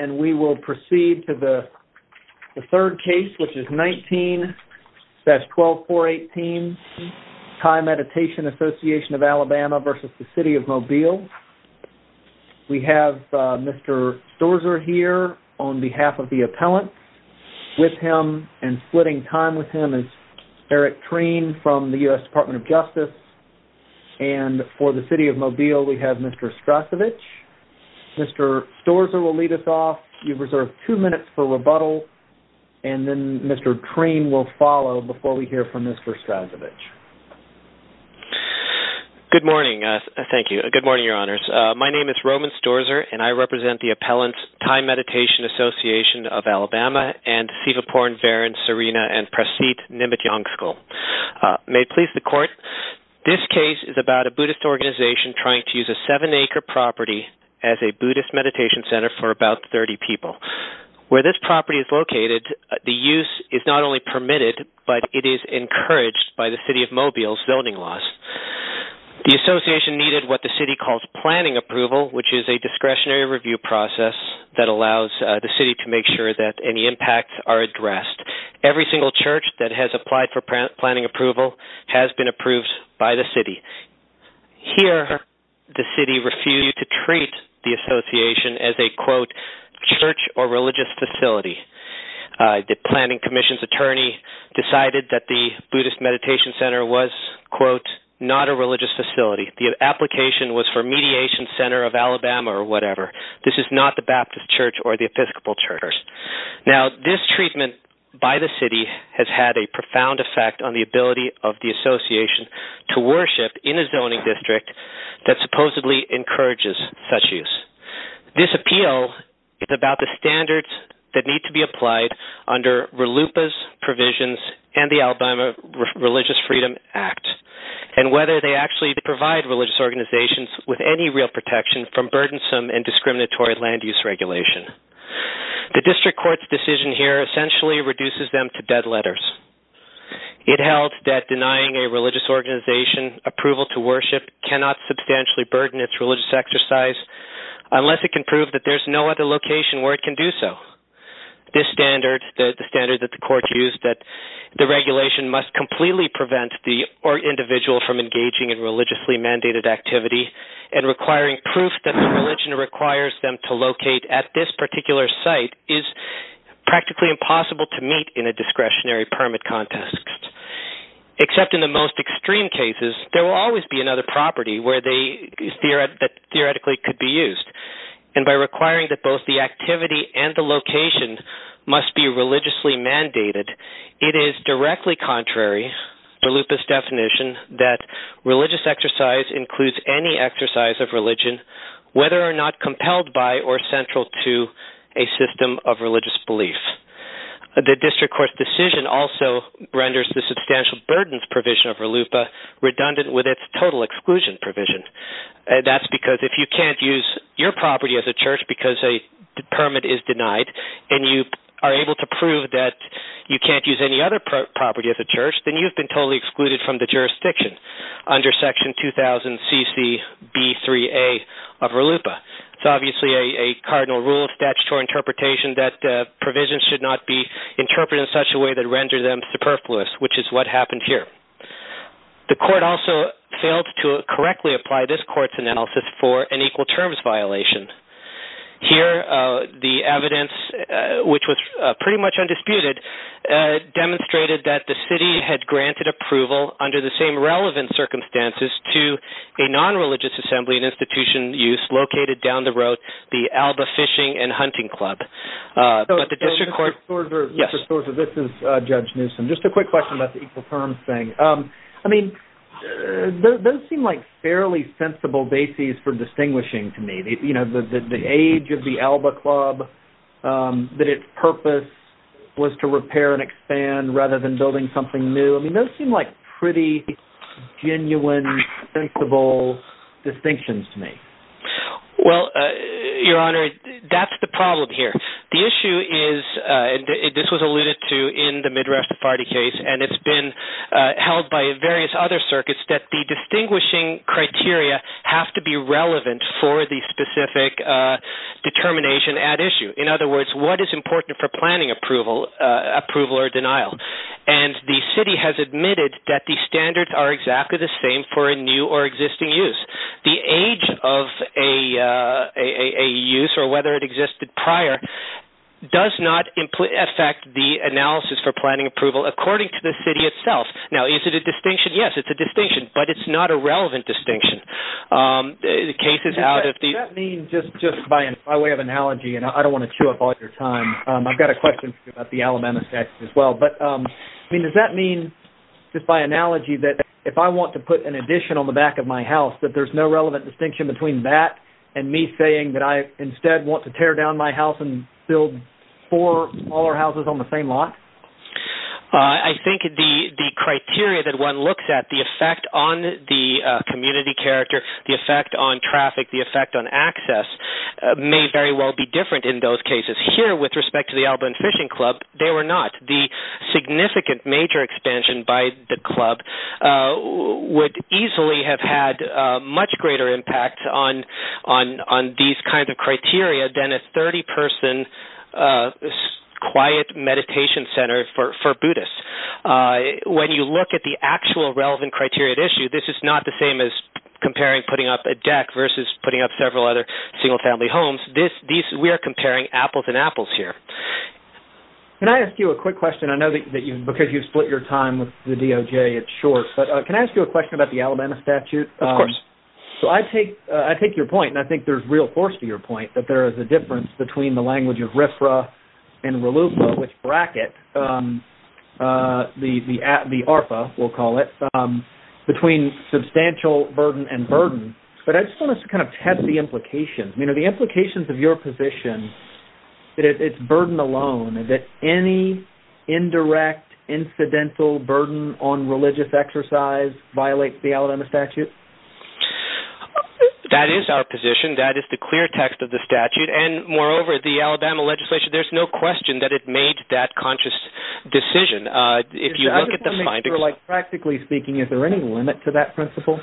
and we will proceed to the third case, which is 19-12418, Thai Meditation Association of Alabama v. City of Mobile. We have Mr. Storzer here on behalf of the appellant. With him and splitting time with him is Eric Treen from the U.S. Department of Justice. And for the City of Mobile, we have Mr. Strasovich. Mr. Storzer will lead us off. You've reserved two minutes for rebuttal. And then Mr. Treen will follow before we hear from Mr. Strasovich. Good morning. Thank you. Good morning, Your Honors. My name is Roman Storzer and I represent the appellants, Thai Meditation Association of Alabama and Sivaporn, Varen, Serena and trying to use a seven-acre property as a Buddhist meditation center for about 30 people. Where this property is located, the use is not only permitted, but it is encouraged by the City of Mobile's building laws. The Association needed what the City calls planning approval, which is a discretionary review process that allows the City to make sure that any impacts are addressed. Every single church that has applied for planning approval has been approved by the City. Here, the City refused to treat the Association as a, quote, church or religious facility. The planning commission's attorney decided that the Buddhist meditation center was, quote, not a religious facility. The application was for Mediation Center of Alabama or whatever. This is not the Baptist Church or the Episcopal Church. Now, this treatment by the City has had a profound effect on the ability of the Association to worship in a zoning district that supposedly encourages such use. This appeal is about the standards that need to be applied under RLUIPA's provisions and the Alabama Religious Freedom Act and whether they actually provide religious organizations with any real protection from burdensome and potentially reduces them to dead letters. It held that denying a religious organization approval to worship cannot substantially burden its religious exercise unless it can prove that there's no other location where it can do so. This standard, the standard that the court used, that the regulation must completely prevent the individual from engaging in religiously mandated activity and requiring proof that the religion requires them to locate at this particular site, is practically impossible to meet in a discretionary permit context. Except in the most extreme cases, there will always be another property where they theoretically could be used. And by requiring that both the activity and the location must be religiously mandated, it is directly contrary to RLUIPA's definition that religious exercise includes any exercise of religion, whether or not compelled by or central to a system of religious belief. The district court's decision also renders the substantial burdens provision of RLUIPA redundant with its total exclusion provision. That's because if you can't use your property as a church because a permit is denied and you are able to prove that you can't use any other property as a church, then you've been totally excluded from the jurisdiction under section 2000 CC B3A of RLUIPA. It's obviously a cardinal rule of statutory interpretation that provisions should not be interpreted in such a way that renders them superfluous, which is what happened here. The court also failed to correctly apply this court's analysis for an equal terms violation. Here, the evidence, which was pretty much undisputed, demonstrated that the city had granted approval under the same relevant circumstances to a non-religious assembly and institution use located down the road, the Alba Fishing and Hunting Club. But the district court... Judge Newsom, just a quick question about the equal terms thing. I mean, those seem like fairly sensible bases for distinguishing to me. The age of the Alba Club, that its purpose was to repair and expand rather than building something new. I mean, those seem like pretty genuine, sensible distinctions to me. Well, Your Honor, that's the problem here. The issue is, and this was alluded to in the Midrash Tafarti case, and it's been held by various other circuits, that the distinguishing criteria have to be relevant for the specific determination at issue. In other words, what is important for planning approval or denial? And the city has admitted that the standards are exactly the same for a new or existing use. The age of a use or whether it existed prior does not affect the analysis for planning approval according to the city itself. Now, is it a distinction? Yes, it's a distinction, but it's not a relevant distinction. Does that mean, just by way of analogy, and I don't want to chew up all your time, I've got a question for you about the Alabama statute as well, but I mean, does that mean, just by analogy, that if I want to put an addition on the back of my house, that there's no relevant distinction between that and me saying that I instead want to tear down my house and build four smaller houses on the same lot? I think the criteria that one looks at, the effect on the community character, the effect on traffic, the effect on access, may very well be different in those cases. Here, with respect to the Alabama Fishing Club, they were not. The significant major expansion by the club would easily have had a much greater impact on these kinds of criteria than a 30-person quiet meditation center for Buddhists. When you look at the actual relevant criteria at issue, this is not the same as comparing putting up a deck versus putting up several other single-family homes. We are comparing apples and apples here. Can I ask you a quick question? I know that because you've split your time with the DOJ, it's short, but can I ask you a question about the Alabama statute? Of course. I take your point, and I think there's real force to your point, that there is a difference between the language of RFRA and RLUFA, which bracket the ARFA, we'll call it, between substantial burden and burden, but I just want us to test the implications. Are the implications of your position that it's burden alone, that any indirect, incidental burden on religious exercise violates the Alabama statute? That is our position. That is the clear text of the statute, and moreover, the Alabama legislation, there's no question that it made that conscious decision. Is there any limit to that principle?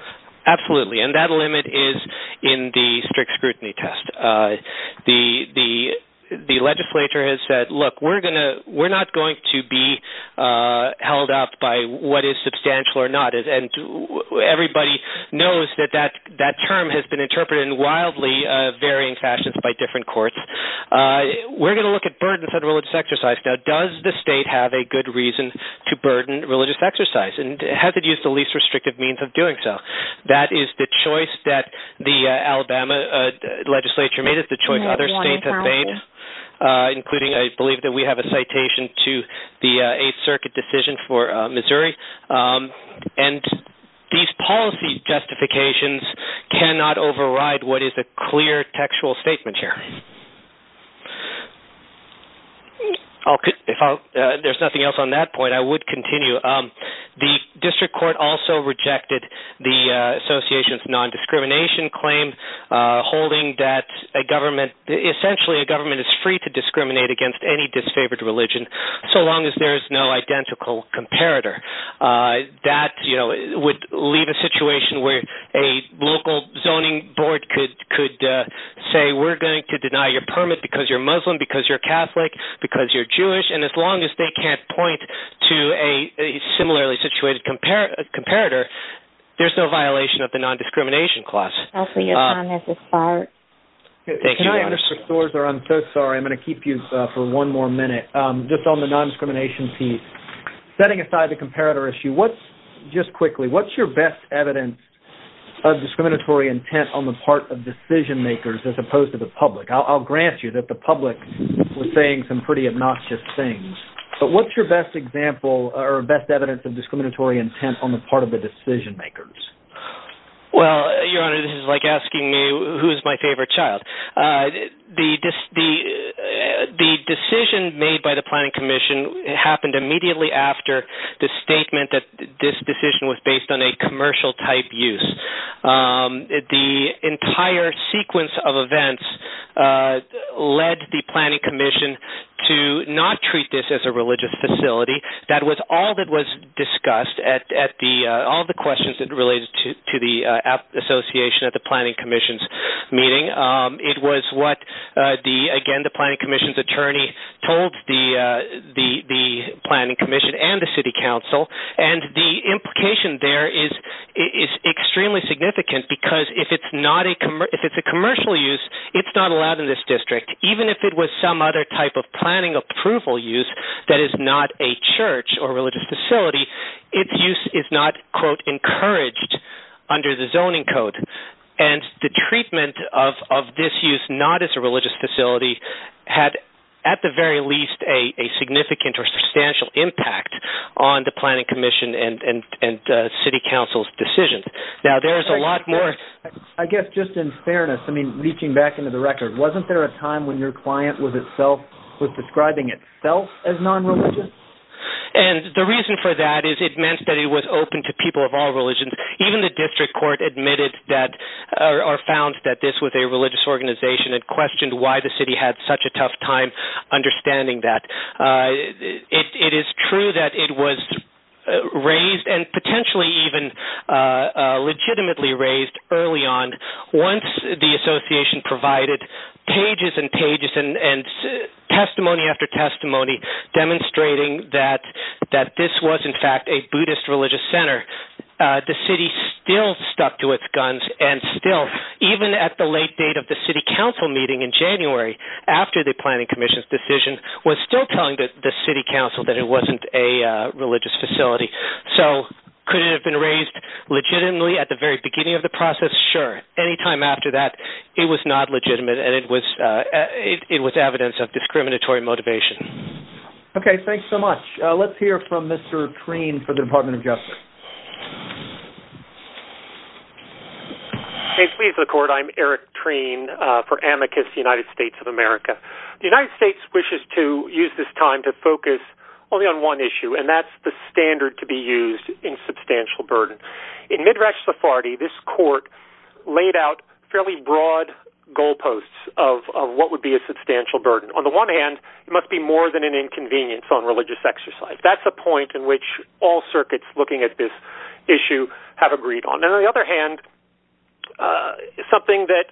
Absolutely, and that limit is in the strict scrutiny test. The legislature has said, look, we're not going to be held up by what is substantial or not, and everybody knows that that term has been interpreted in wildly varying fashions by different courts. We're going to look at burdens on religious exercise. Now, does the state have a good reason to burden religious exercise, and has it used the least restrictive means of doing so? That is the choice that the Alabama legislature made. It's the choice other states have made, including, I believe, that we have a citation to the 8th Circuit decision for Missouri, and these policy justifications cannot override what is a clear textual statement here. If there's nothing else on that point, I would continue. The district court also rejected the association's non-discrimination claim, holding that essentially a government is free to discriminate against any disfavored religion, so long as there is no identical comparator. That would leave a situation where a local zoning board could say, we're going to deny your permit because you're Muslim, because you're Catholic, because you're Jewish, and as long as they can't point to a similarly-situated comparator, there's no violation of the non-discrimination clause. Can I interrupt, Mr. Sorzer? I'm so sorry. I'm going to keep you for one more minute. Just on the non-discrimination piece, setting aside the comparator issue, just quickly, what's your best evidence of discriminatory intent on the part of decision-makers as opposed to the public? I'll grant you that the public was saying some pretty obnoxious things, but what's your best example or best evidence of discriminatory intent on the part of the decision-makers? Well, Your Honor, this is like asking me who's my favorite child. The decision made by the Planning Commission happened immediately after the statement that this decision was based on a commercial-type use. The entire sequence of events led the Planning Commission to not treat this as a religious facility. That was all that was discussed at all the questions that related to the association at the Planning Commission's meeting. It was what, again, the Planning Commission's attorney told the Planning Commission and the City Council, and the implication there is extremely significant because if it's a commercial use, it's not allowed in this district. Even if it was some other type of planning approval use that is not a church or religious facility, its use is not, quote, encouraged under the zoning code, and the treatment of this use not as a religious facility had, at the very least, a significant or substantial impact on the Planning Commission and City Council's decisions. Now, there's a lot more... I guess, just in fairness, I mean, reaching back into the record, wasn't there a time when your client was describing itself as non-religious? And the reason for that is it meant that it was open to people of all religions. Even the district court found that this was a religious organization and questioned why the city had such a tough time understanding that. It is true that it was raised, and potentially even legitimately raised, early on. Once the association provided pages and pages and testimony after testimony demonstrating that this was, in fact, a Buddhist religious center, the city still stuck to its guns and still, even at the late date of the City Council meeting in January, after the Planning Commission's decision, was still telling the City Council that it wasn't a religious facility. So, could it have been raised legitimately at the very beginning of the process? Sure. Any time after that, it was not legitimate and it was evidence of discriminatory motivation. Okay, thanks so much. Let's hear from Mr. Treen for the Department of Justice. Okay, please, the Court. I'm Eric Treen for Amicus United States of America. The United States wishes to use this time to focus only on one issue, and that's the standard to be used in substantial burden. In Midrash Sephardi, this Court laid out fairly broad goalposts of what would be a substantial burden. On the one hand, it must be more than an inconvenience on religious exercise. That's a point in which all circuits looking at this issue have agreed on. On the other hand, something that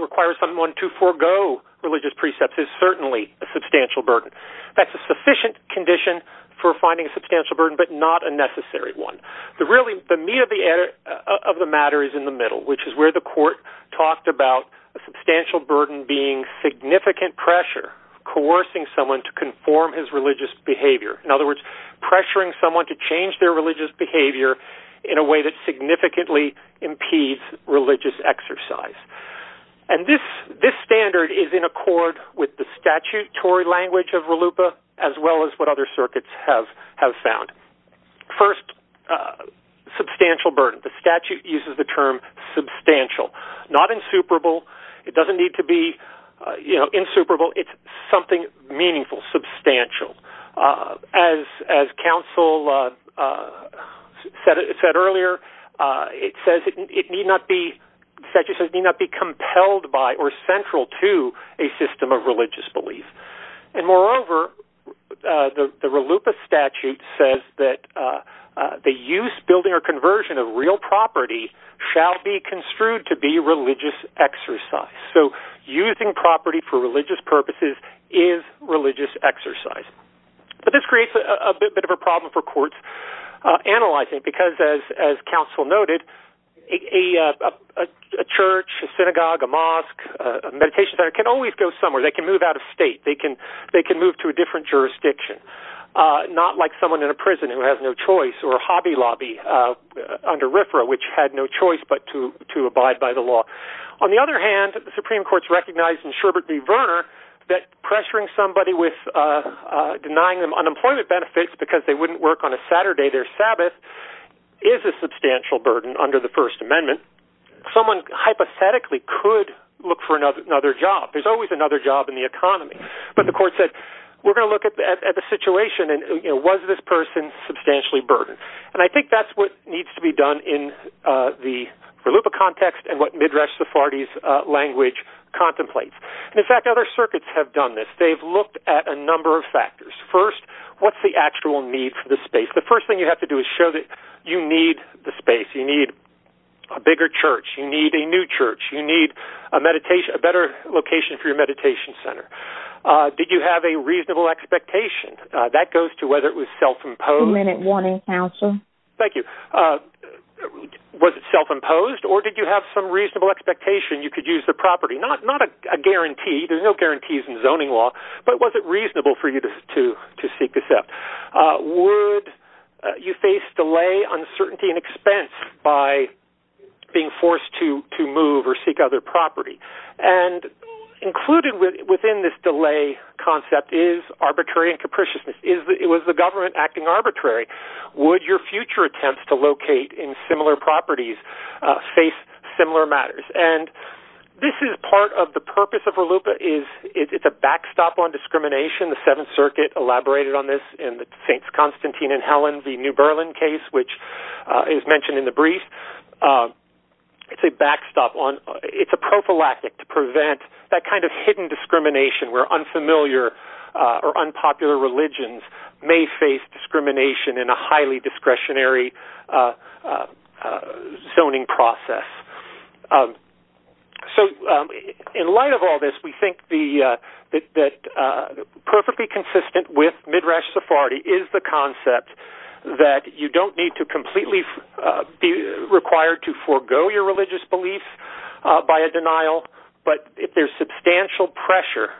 requires someone to forego religious precepts is certainly a substantial burden. That's a sufficient condition for finding a substantial burden, but not a necessary one. Really, the meat of the matter is in the middle, which is where the Court talked about a substantial burden being significant pressure, coercing someone to conform his religious behavior. In other words, pressuring someone to change their religious behavior in a way that significantly impedes religious exercise. And this standard is in accord with the statutory language of RLUIPA, as well as what other circuits have found. First, substantial burden. The statute uses the term substantial. Not insuperable. It doesn't need to be insuperable. It's something meaningful, substantial. As counsel said earlier, it says it need not be compelled by or central to a system of religious belief. And moreover, the RLUIPA statute says that the use, building, or conversion of real property shall be construed to be religious exercise. So using property for religious purposes is religious exercise. But this creates a bit of a problem for courts analyzing, because as counsel noted, a church, a synagogue, a mosque, a meditation center can always go somewhere. They can move out of state. They can move to a different jurisdiction. Not like someone in a prison who has no choice, or a hobby lobby under RFRA which had no choice but to abide by the law. On the other hand, the Supreme Court's recognized in Sherbert v. Verner that pressuring somebody with denying them unemployment benefits because they wouldn't work on a Saturday their Sabbath is a substantial burden under the First Amendment. Someone hypothetically could look for another job. There's always another job in the economy. But the court said, we're going to look at the situation and was this person substantially burdened? And I think that's what needs to be done in the RLUIPA context and what Midrash Sephardi's language contemplates. In fact, other circuits have done this. They've looked at a number of factors. First, what's the actual need for the space? The first thing you have to do is show that you need the space. You need a bigger church. You need a new church. You need a better location for your meditation center. Did you have a reasonable expectation? That goes to whether it was self-imposed. Was it self-imposed or did you have some reasonable expectation you could use the property? Not a guarantee. There's no guarantees in zoning law. But was it reasonable for you to seek this out? Would you face delay, uncertainty and expense by being forced to move or seek other property? And included within this delay concept is arbitrary and capriciousness. It was the government acting arbitrary. Would your future attempts to locate in similar properties face similar matters? And this is part of the purpose of RLUIPA. It's a backstop on discrimination. The Seventh Circuit elaborated on this in the St. Constantine and Helen v. New Berlin case, which is mentioned in the brief. It's a backstop. It's a prophylactic to prevent that kind of hidden discrimination where unfamiliar or unpopular religions may face discrimination in a highly discretionary zoning process. So in light of all this, we think that perfectly consistent with mid-race Sephardi is the concept that you don't need to completely be required to forego your religious belief by a denial. But if there's substantial pressure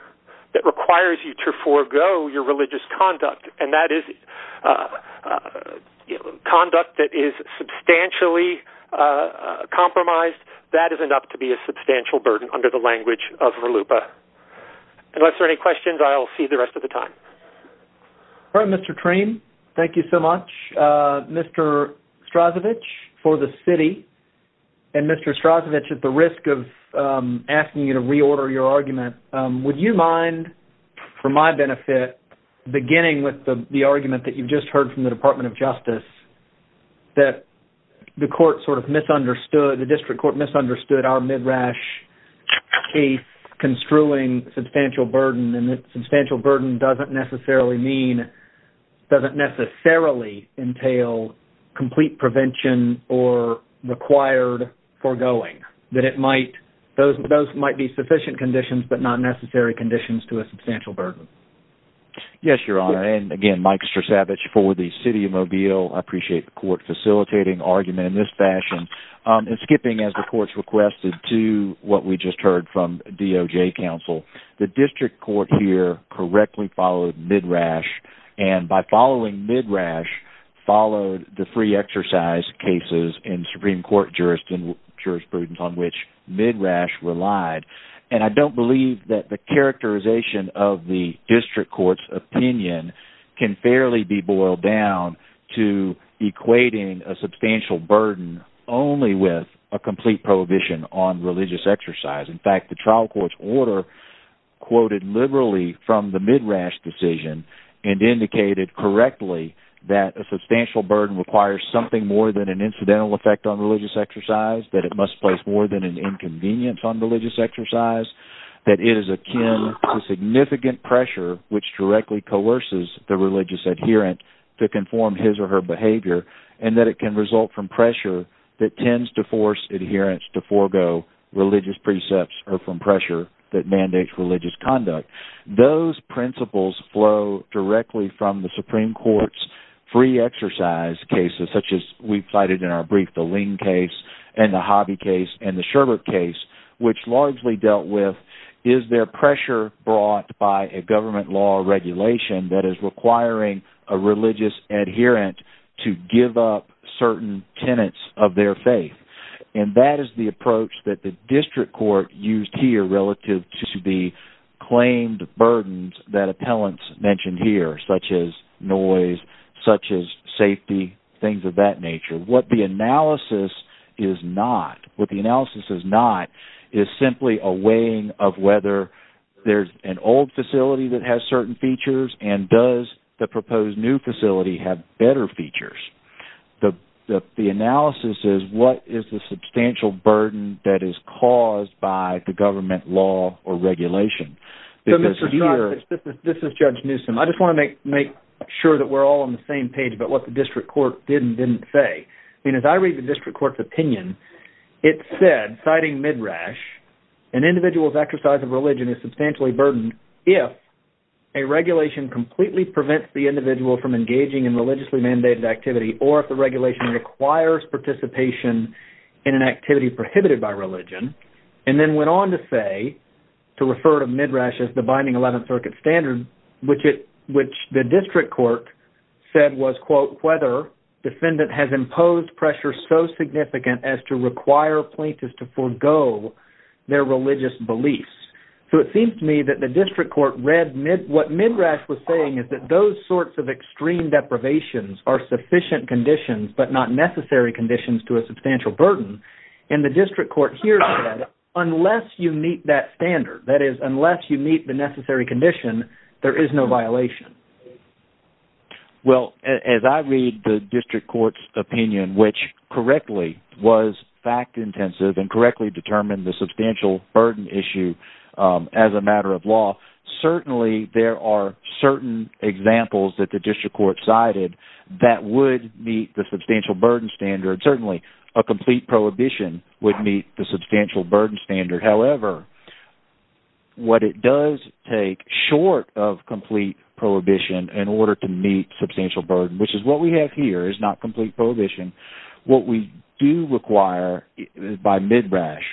that requires you to forego your religious conduct, and that is conduct that is substantially compromised, that is enough to be a substantial burden under the language of RLUIPA. Unless there are any questions, I'll see the rest of the time. All right, Mr. Trem, thank you so much. Mr. Strasovich, for the city, and Mr. Strasovich, at the risk of asking you to reorder your argument, would you mind, for my benefit, beginning with the argument that you just heard from the Department of Justice, that the court sort of misunderstood, the district construing substantial burden, and that substantial burden doesn't necessarily mean, doesn't necessarily entail complete prevention or required foregoing. That it might, those might be sufficient conditions, but not necessary conditions to a substantial burden. Yes, Your Honor, and again, Mike Strasovich, for the city of Mobile, I appreciate the court facilitating argument in this fashion. And skipping, as the court's requested, to what we just heard from DOJ counsel, the district court here correctly followed Midrash, and by following Midrash, followed the free exercise cases in Supreme Court jurisprudence on which Midrash relied. And I don't believe that the characterization of the district court's opinion can fairly be boiled down to equating a substantial burden only with a complete prohibition on religious exercise. In fact, the trial court's order quoted liberally from the Midrash decision and indicated correctly that a substantial burden requires something more than an incidental effect on religious exercise, that it must place more than an inconvenience on religious exercise, that it is akin to significant pressure which directly coerces the religious adherent to conform his or her behavior, and that it can result from pressure that tends to force adherents to forego religious precepts or from pressure that mandates religious conduct. Those principles flow directly from the Supreme Court's free exercise cases, such as we've cited in our brief, the Ling case and the Hobby case and the Sherbert case, which largely dealt with is there pressure brought by a government law or regulation that is requiring a religious adherent to give up certain tenets of their faith. And that is the approach that the district court used here relative to the claimed burdens that appellants mentioned here, such as noise, such as safety, things of that nature. What the analysis is not, what the analysis is not is simply a weighing of whether there's an old facility that has certain features and does the proposed new facility have better features. The analysis is what is the substantial burden that is caused by the government law or regulation. This is Judge Newsom. I just want to make sure that we're all on the same page about what the district court did and didn't say. I mean, as I read the district court's opinion, it said, citing Midrash, an individual's exercise of religion is substantially burdened if a regulation completely prevents the individual from engaging in religiously mandated activity or if the regulation requires participation in an activity prohibited by religion. And then went on to say, to refer to Midrash as the binding 11th Circuit standard, which the district court said was, quote, whether defendant has imposed pressure so significant as to require plaintiffs to forego their religious beliefs. So it seems to me that the district court read what Midrash was saying is that those sorts of extreme deprivations are sufficient conditions, but not necessary conditions to a substantial burden. And the district court here said, unless you meet that standard, that is, unless you meet the necessary condition, there is no violation. Well, as I read the district court's opinion, which correctly was fact intensive and correctly determined the substantial burden issue as a matter of law, certainly there are certain examples that the district court cited that would meet the substantial burden standard. Certainly, a complete prohibition would meet the substantial burden standard. However, what it does take short of complete prohibition in order to meet substantial burden, which is what we have here is not complete prohibition. What we do require by Midrash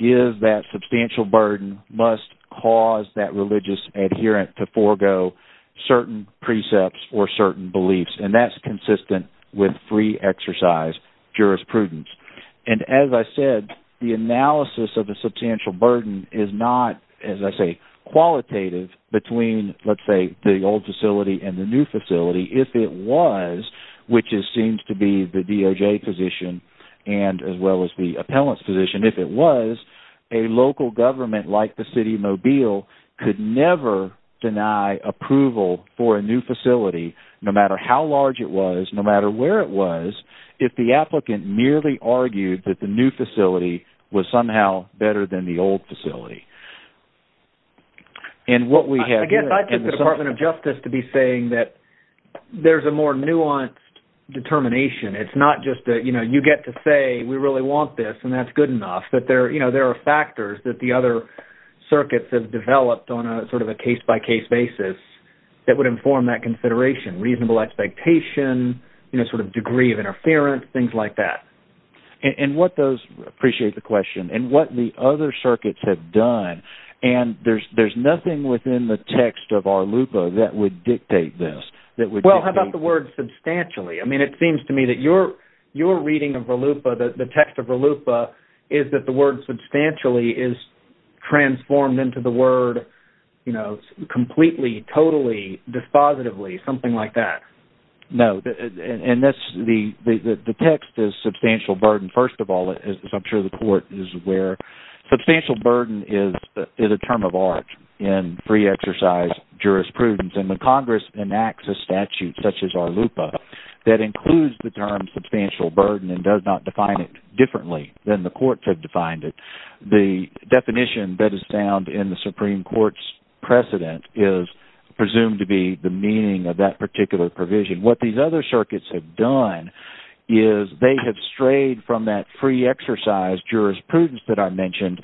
is that substantial burden must cause that religious adherent to forego certain precepts or certain beliefs. And that's consistent with free exercise jurisprudence. And as I said, the analysis of a substantial burden is not, as I say, qualitative between, let's say, the old facility and the new facility if it was, which seems to be the DOJ position as well as the appellant's position, if it was, a local government like the city of Mobile could never deny approval for a new facility no matter how large it was, no matter where it was, if the applicant merely argued that the new facility was somehow better than the old facility. And what we have here... Again, I think the Department of Justice to be saying that there's a more nuanced determination. It's not just that, you know, you get to say we really want this and that's good enough, that there, you know, there are factors that the other circuits have developed on a sort of a case-by-case basis that would inform that consideration, reasonable expectation, you know, sort of degree of interference, things like that. And what those... I appreciate the question. And what the other circuits have done, and there's nothing within the text of Arlupa that would dictate this, that would... Well, how about the word substantially? I mean, it seems to me that your reading of Arlupa, the text of Arlupa, is that the word substantially is transformed into the word, you know, completely, totally, dispositively, something like that. No. And that's... The text is substantial burden, first of all, as I'm sure the court is aware. Substantial burden is a term of art in free exercise jurisprudence. And when Congress enacts a statute such as Arlupa that includes the term substantial burden and does not define it differently than the courts have defined it, the definition that is found in the Supreme Court's precedent is presumed to be the meaning of that particular provision. What these other circuits have done is they have strayed from that free exercise jurisprudence that I mentioned,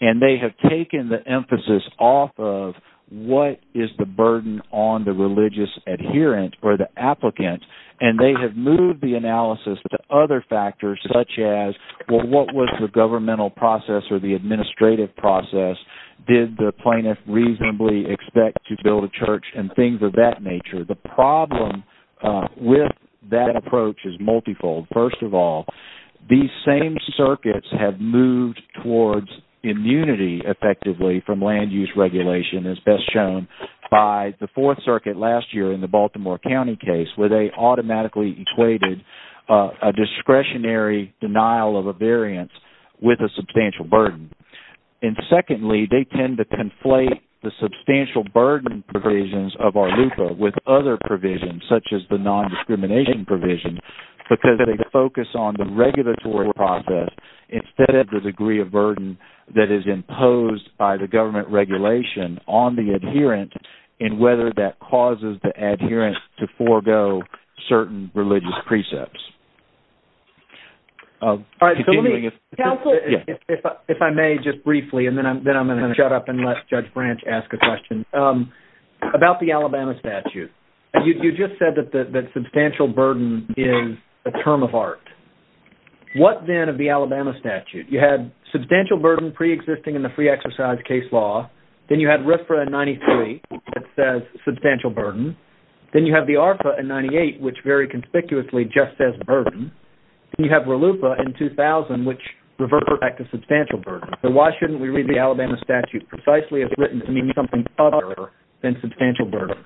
and they have taken the emphasis off of what is the burden on the religious adherent or the applicant, and they have moved the analysis to other factors such as, well, what was the governmental process or the administrative process? Did the plaintiff reasonably expect to build a church and things of that nature? The problem with that approach is multifold. First of all, these same circuits have moved towards immunity, effectively, from land use regulation as best shown by the Fourth Circuit last year in the Baltimore County case where they automatically equated a discretionary denial of a variance with a substantial burden. And secondly, they tend to conflate the substantial burden provisions of Arlupa with other provisions such as the nondiscrimination provision because they focus on the regulatory process instead of the degree of burden that is imposed by the government regulation on the adherent and whether that causes the adherent to forego certain religious precepts. All right. If I may, just briefly, and then I'm going to shut up and let Judge Branch ask a question. About the Alabama statute, you just said that substantial burden is a term of art. What then of the Alabama statute? You had substantial burden preexisting in the free exercise case law. Then you had RFRA in 93 that says substantial burden. Then you have the ARFA in 98 which very conspicuously just says burden. Then you have Arlupa in 2000 which reverts back to substantial burden. Why shouldn't we read the Alabama statute precisely if it's written to mean something other than substantial burden?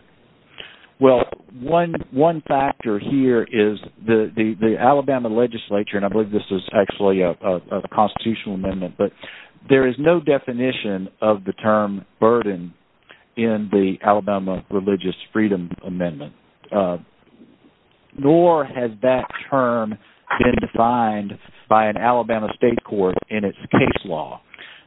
Well, one factor here is the Alabama legislature, and I believe this is actually a constitutional amendment, but there is no definition of the term burden in the Alabama religious freedom amendment, nor has that term been defined by an Alabama state court in its case law.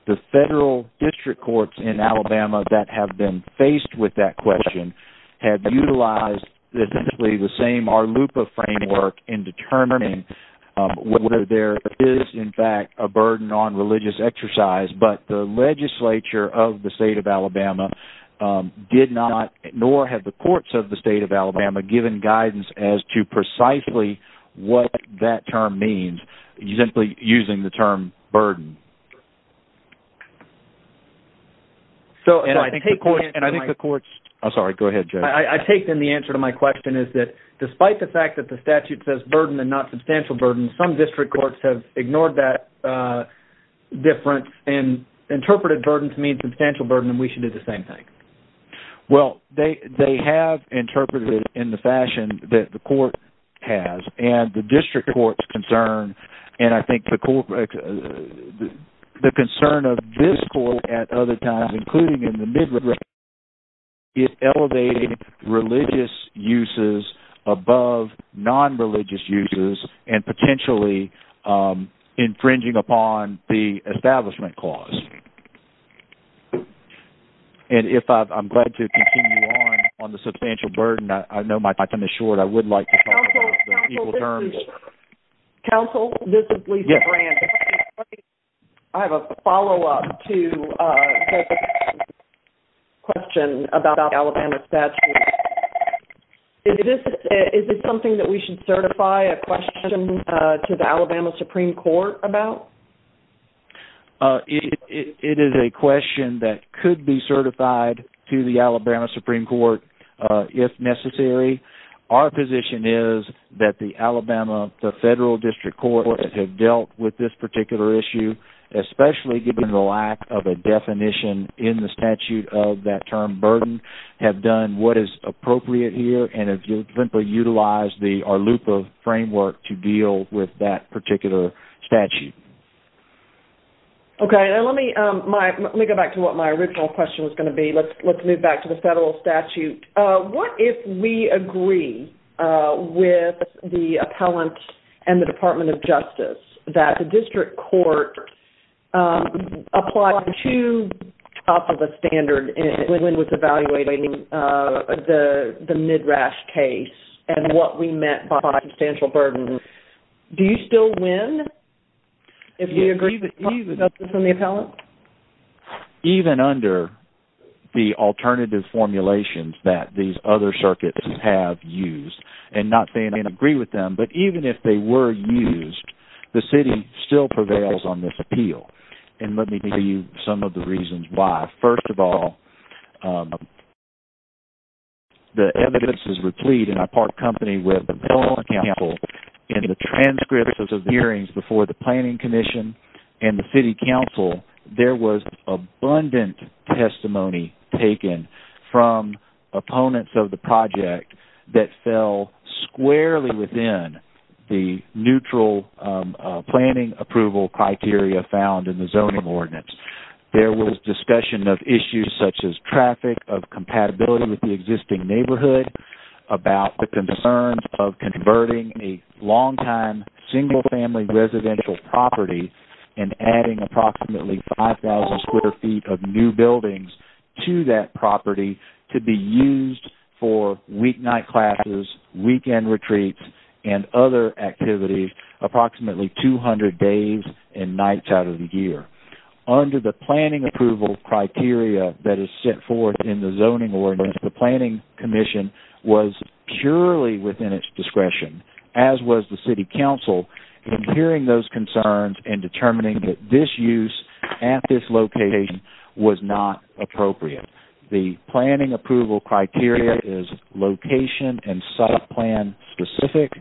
The federal district courts in Alabama that have been faced with that question have utilized essentially the same Arlupa framework in determining whether there is in fact a burden on religious exercise, but the legislature of the state of Alabama did not, nor have the courts of the state of Alabama given guidance as to precisely what that term means, simply using the term burden. I think the courts... I'm sorry. Go ahead, Joe. I take then the answer to my question is that despite the fact that the statute says burden and not substantial burden, some district courts have ignored that difference and interpreted burden to mean substantial burden and we should do the same thing. Well, they have interpreted it in the fashion that the court has, and the district court's concern, and I think the concern of this court at other times, including in the mid-region, is elevating religious uses above non-religious uses and potentially infringing upon the establishment clause. And if I'm glad to continue on the substantial burden, I know my time is short. I would like to talk about the equal terms. Counsel, this is Lisa. Counsel, this is Lisa Grant. Yes. I have a follow-up to the question about the Alabama statute. Is it something that we should certify a question to the Alabama Supreme Court about? It is a question that could be certified to the Alabama Supreme Court if necessary. Our position is that the Alabama Federal District Courts have dealt with this particular issue, especially given the lack of a definition in the statute of that term burden, have done what is appropriate here, and have simply utilized our loophole framework to deal with that particular statute. Okay. Let me go back to what my original question was going to be. Let's move back to the federal statute. What if we agree with the appellant and the Department of Justice that the district court applied to top of the standard when it was evaluating the Midrash case and what we meant by substantial burden? Do you still win if you agree with the Justice and the appellant? Even under the alternative formulations that these other circuits have used, and not saying I agree with them, but even if they were used, the city still prevails on this appeal. Let me give you some of the reasons why. First of all, the evidence is replete, and I part company with the Billing Council in the transcripts of the hearings before the Planning Commission and the City Council. There was abundant testimony taken from opponents of the project that fell squarely within the neutral planning approval criteria found in the zoning ordinance. There was discussion of issues such as traffic, of compatibility with the existing neighborhood, about the concerns of converting a long-time single-family residential property and adding approximately 5,000 square feet of new buildings to that property to be used for weeknight classes, weekend retreats, and other activities approximately 200 days and nights out of the year. Under the planning approval criteria that is set forth in the zoning ordinance, the Planning Commission was purely within its discretion, as was the City Council, in hearing those concerns and determining that this use at this location was not appropriate. The planning approval criteria is location and site plan specific,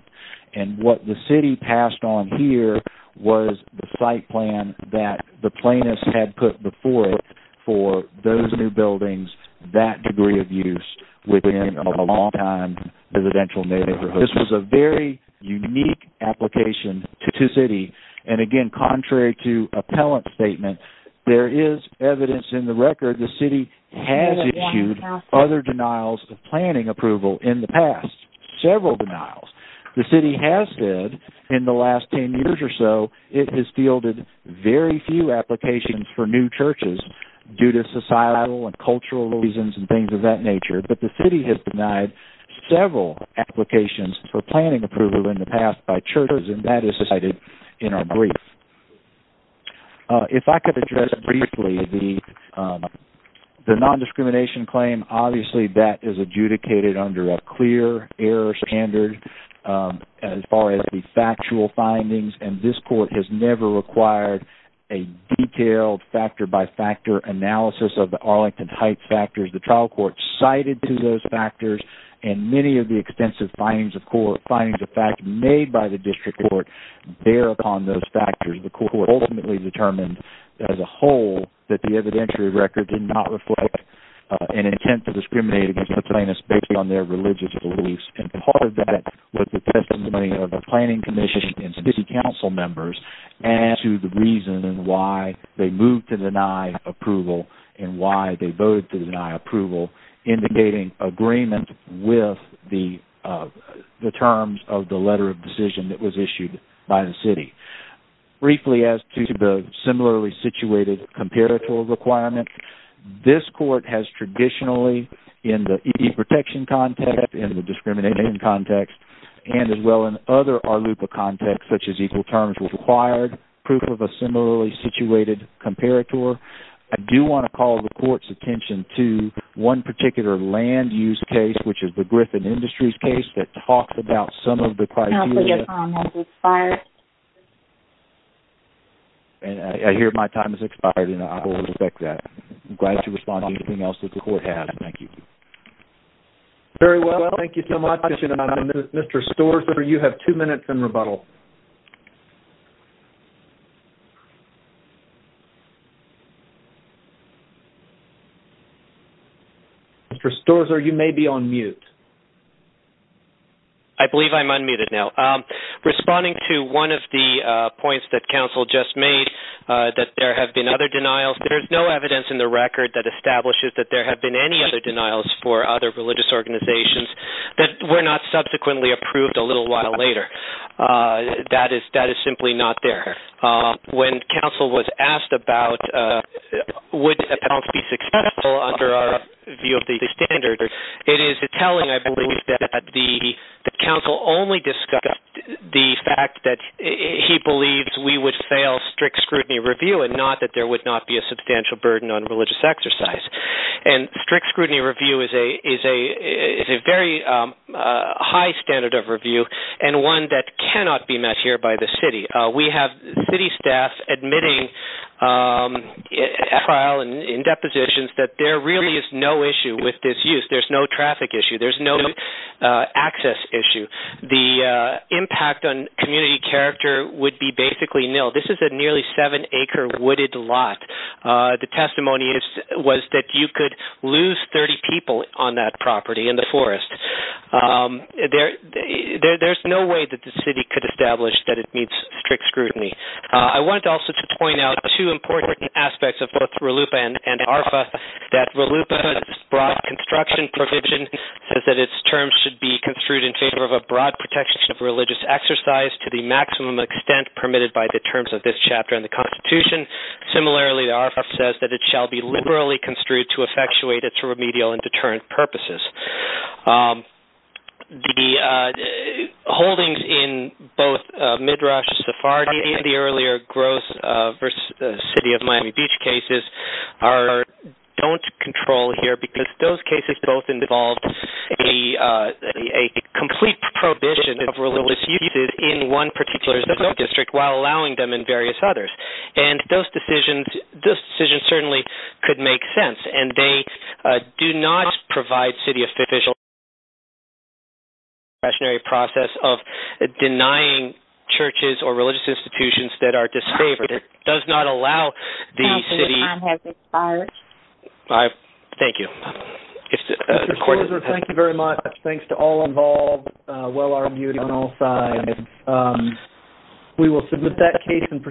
and what the city passed on here was the site plan that the plaintiffs had put before it for those new buildings, that degree of use within a long-time residential neighborhood. This was a very unique application to the city, and again, contrary to appellant statement, there is evidence in the record the city has issued other denials of planning approval in the past, several denials. The city has said in the last 10 years or so it has fielded very few applications for new churches due to societal and cultural reasons and things of that nature, but the city has denied several applications for planning approval in the past by churches, and that is cited in our brief. If I could address briefly the non-discrimination claim, obviously that is adjudicated under a clear error standard as far as the factual findings, and this court has never required a detailed factor-by-factor analysis of the Arlington Heights factors. The trial court cited to those factors, and many of the extensive findings of fact made by the district court bear upon those factors. The court ultimately determined as a whole that the evidentiary record did not reflect an intent to discriminate against the plaintiffs based on their religious beliefs, and part of that was the testimony of the planning commission and city council members as to the reason why they moved to deny approval and why they voted to deny approval, indicating agreement with the terms of the letter of decision that was issued by the city. Briefly as to the similarly situated comparator requirement, this court has traditionally in the ED protection context, in the discrimination context, and as well in other ARLUPA contexts such as equal terms required, proof of a similarly situated comparator. I do want to call the court's attention to one particular land-use case, which is the Griffin Industries case that talks about some of the criteria. Counsel, your time has expired. I hear my time has expired, and I will respect that. I'm glad to respond to anything else that the court has. Thank you. Very well. Thank you so much. Mr. Storza, you have two minutes in rebuttal. Mr. Storza, you may be on mute. I believe I'm unmuted now. Responding to one of the points that counsel just made, that there have been other denials, there's no evidence in the record that establishes that there have been any other denials for other religious organizations that were not subsequently approved a little while later. That is simply not there. When counsel was asked about would the appellant be successful under our view of the standard, it is telling, I believe, that the counsel only discussed the fact that he believes we would fail strict scrutiny review and not that there would not be a substantial burden on religious exercise. And strict scrutiny review is a very high standard of review and one that cannot be met here by the city. We have city staff admitting at trial and in depositions that there really is no issue with this use. There's no traffic issue. There's no access issue. The impact on community character would be basically nil. This is a nearly seven-acre wooded lot. The testimony was that you could lose 30 people on that property in the forest. There's no way that the city could establish that it meets strict scrutiny. I wanted also to point out two important aspects of both RLUIPA and ARFA, that RLUIPA's broad construction provision says that its terms should be construed in favor of a broad protection of religious exercise to the maximum extent permitted by the terms of this chapter in the Constitution. Similarly, ARFA says that it shall be liberally construed to effectuate its remedial and deterrent purposes. The holdings in both Midrash, Sephardi, and the earlier Gross v. City of Miami Beach cases don't control here because those cases both involved a complete prohibition of religious uses in one particular zoning district while allowing them in various others. And those decisions certainly could make sense. They do not provide city officials with the discretionary process of denying churches or religious institutions that are disfavored. It does not allow the city... Counsel, your time has expired. Thank you. Mr. Korser, thank you very much. Thanks to all involved. We will submit that case in procedure.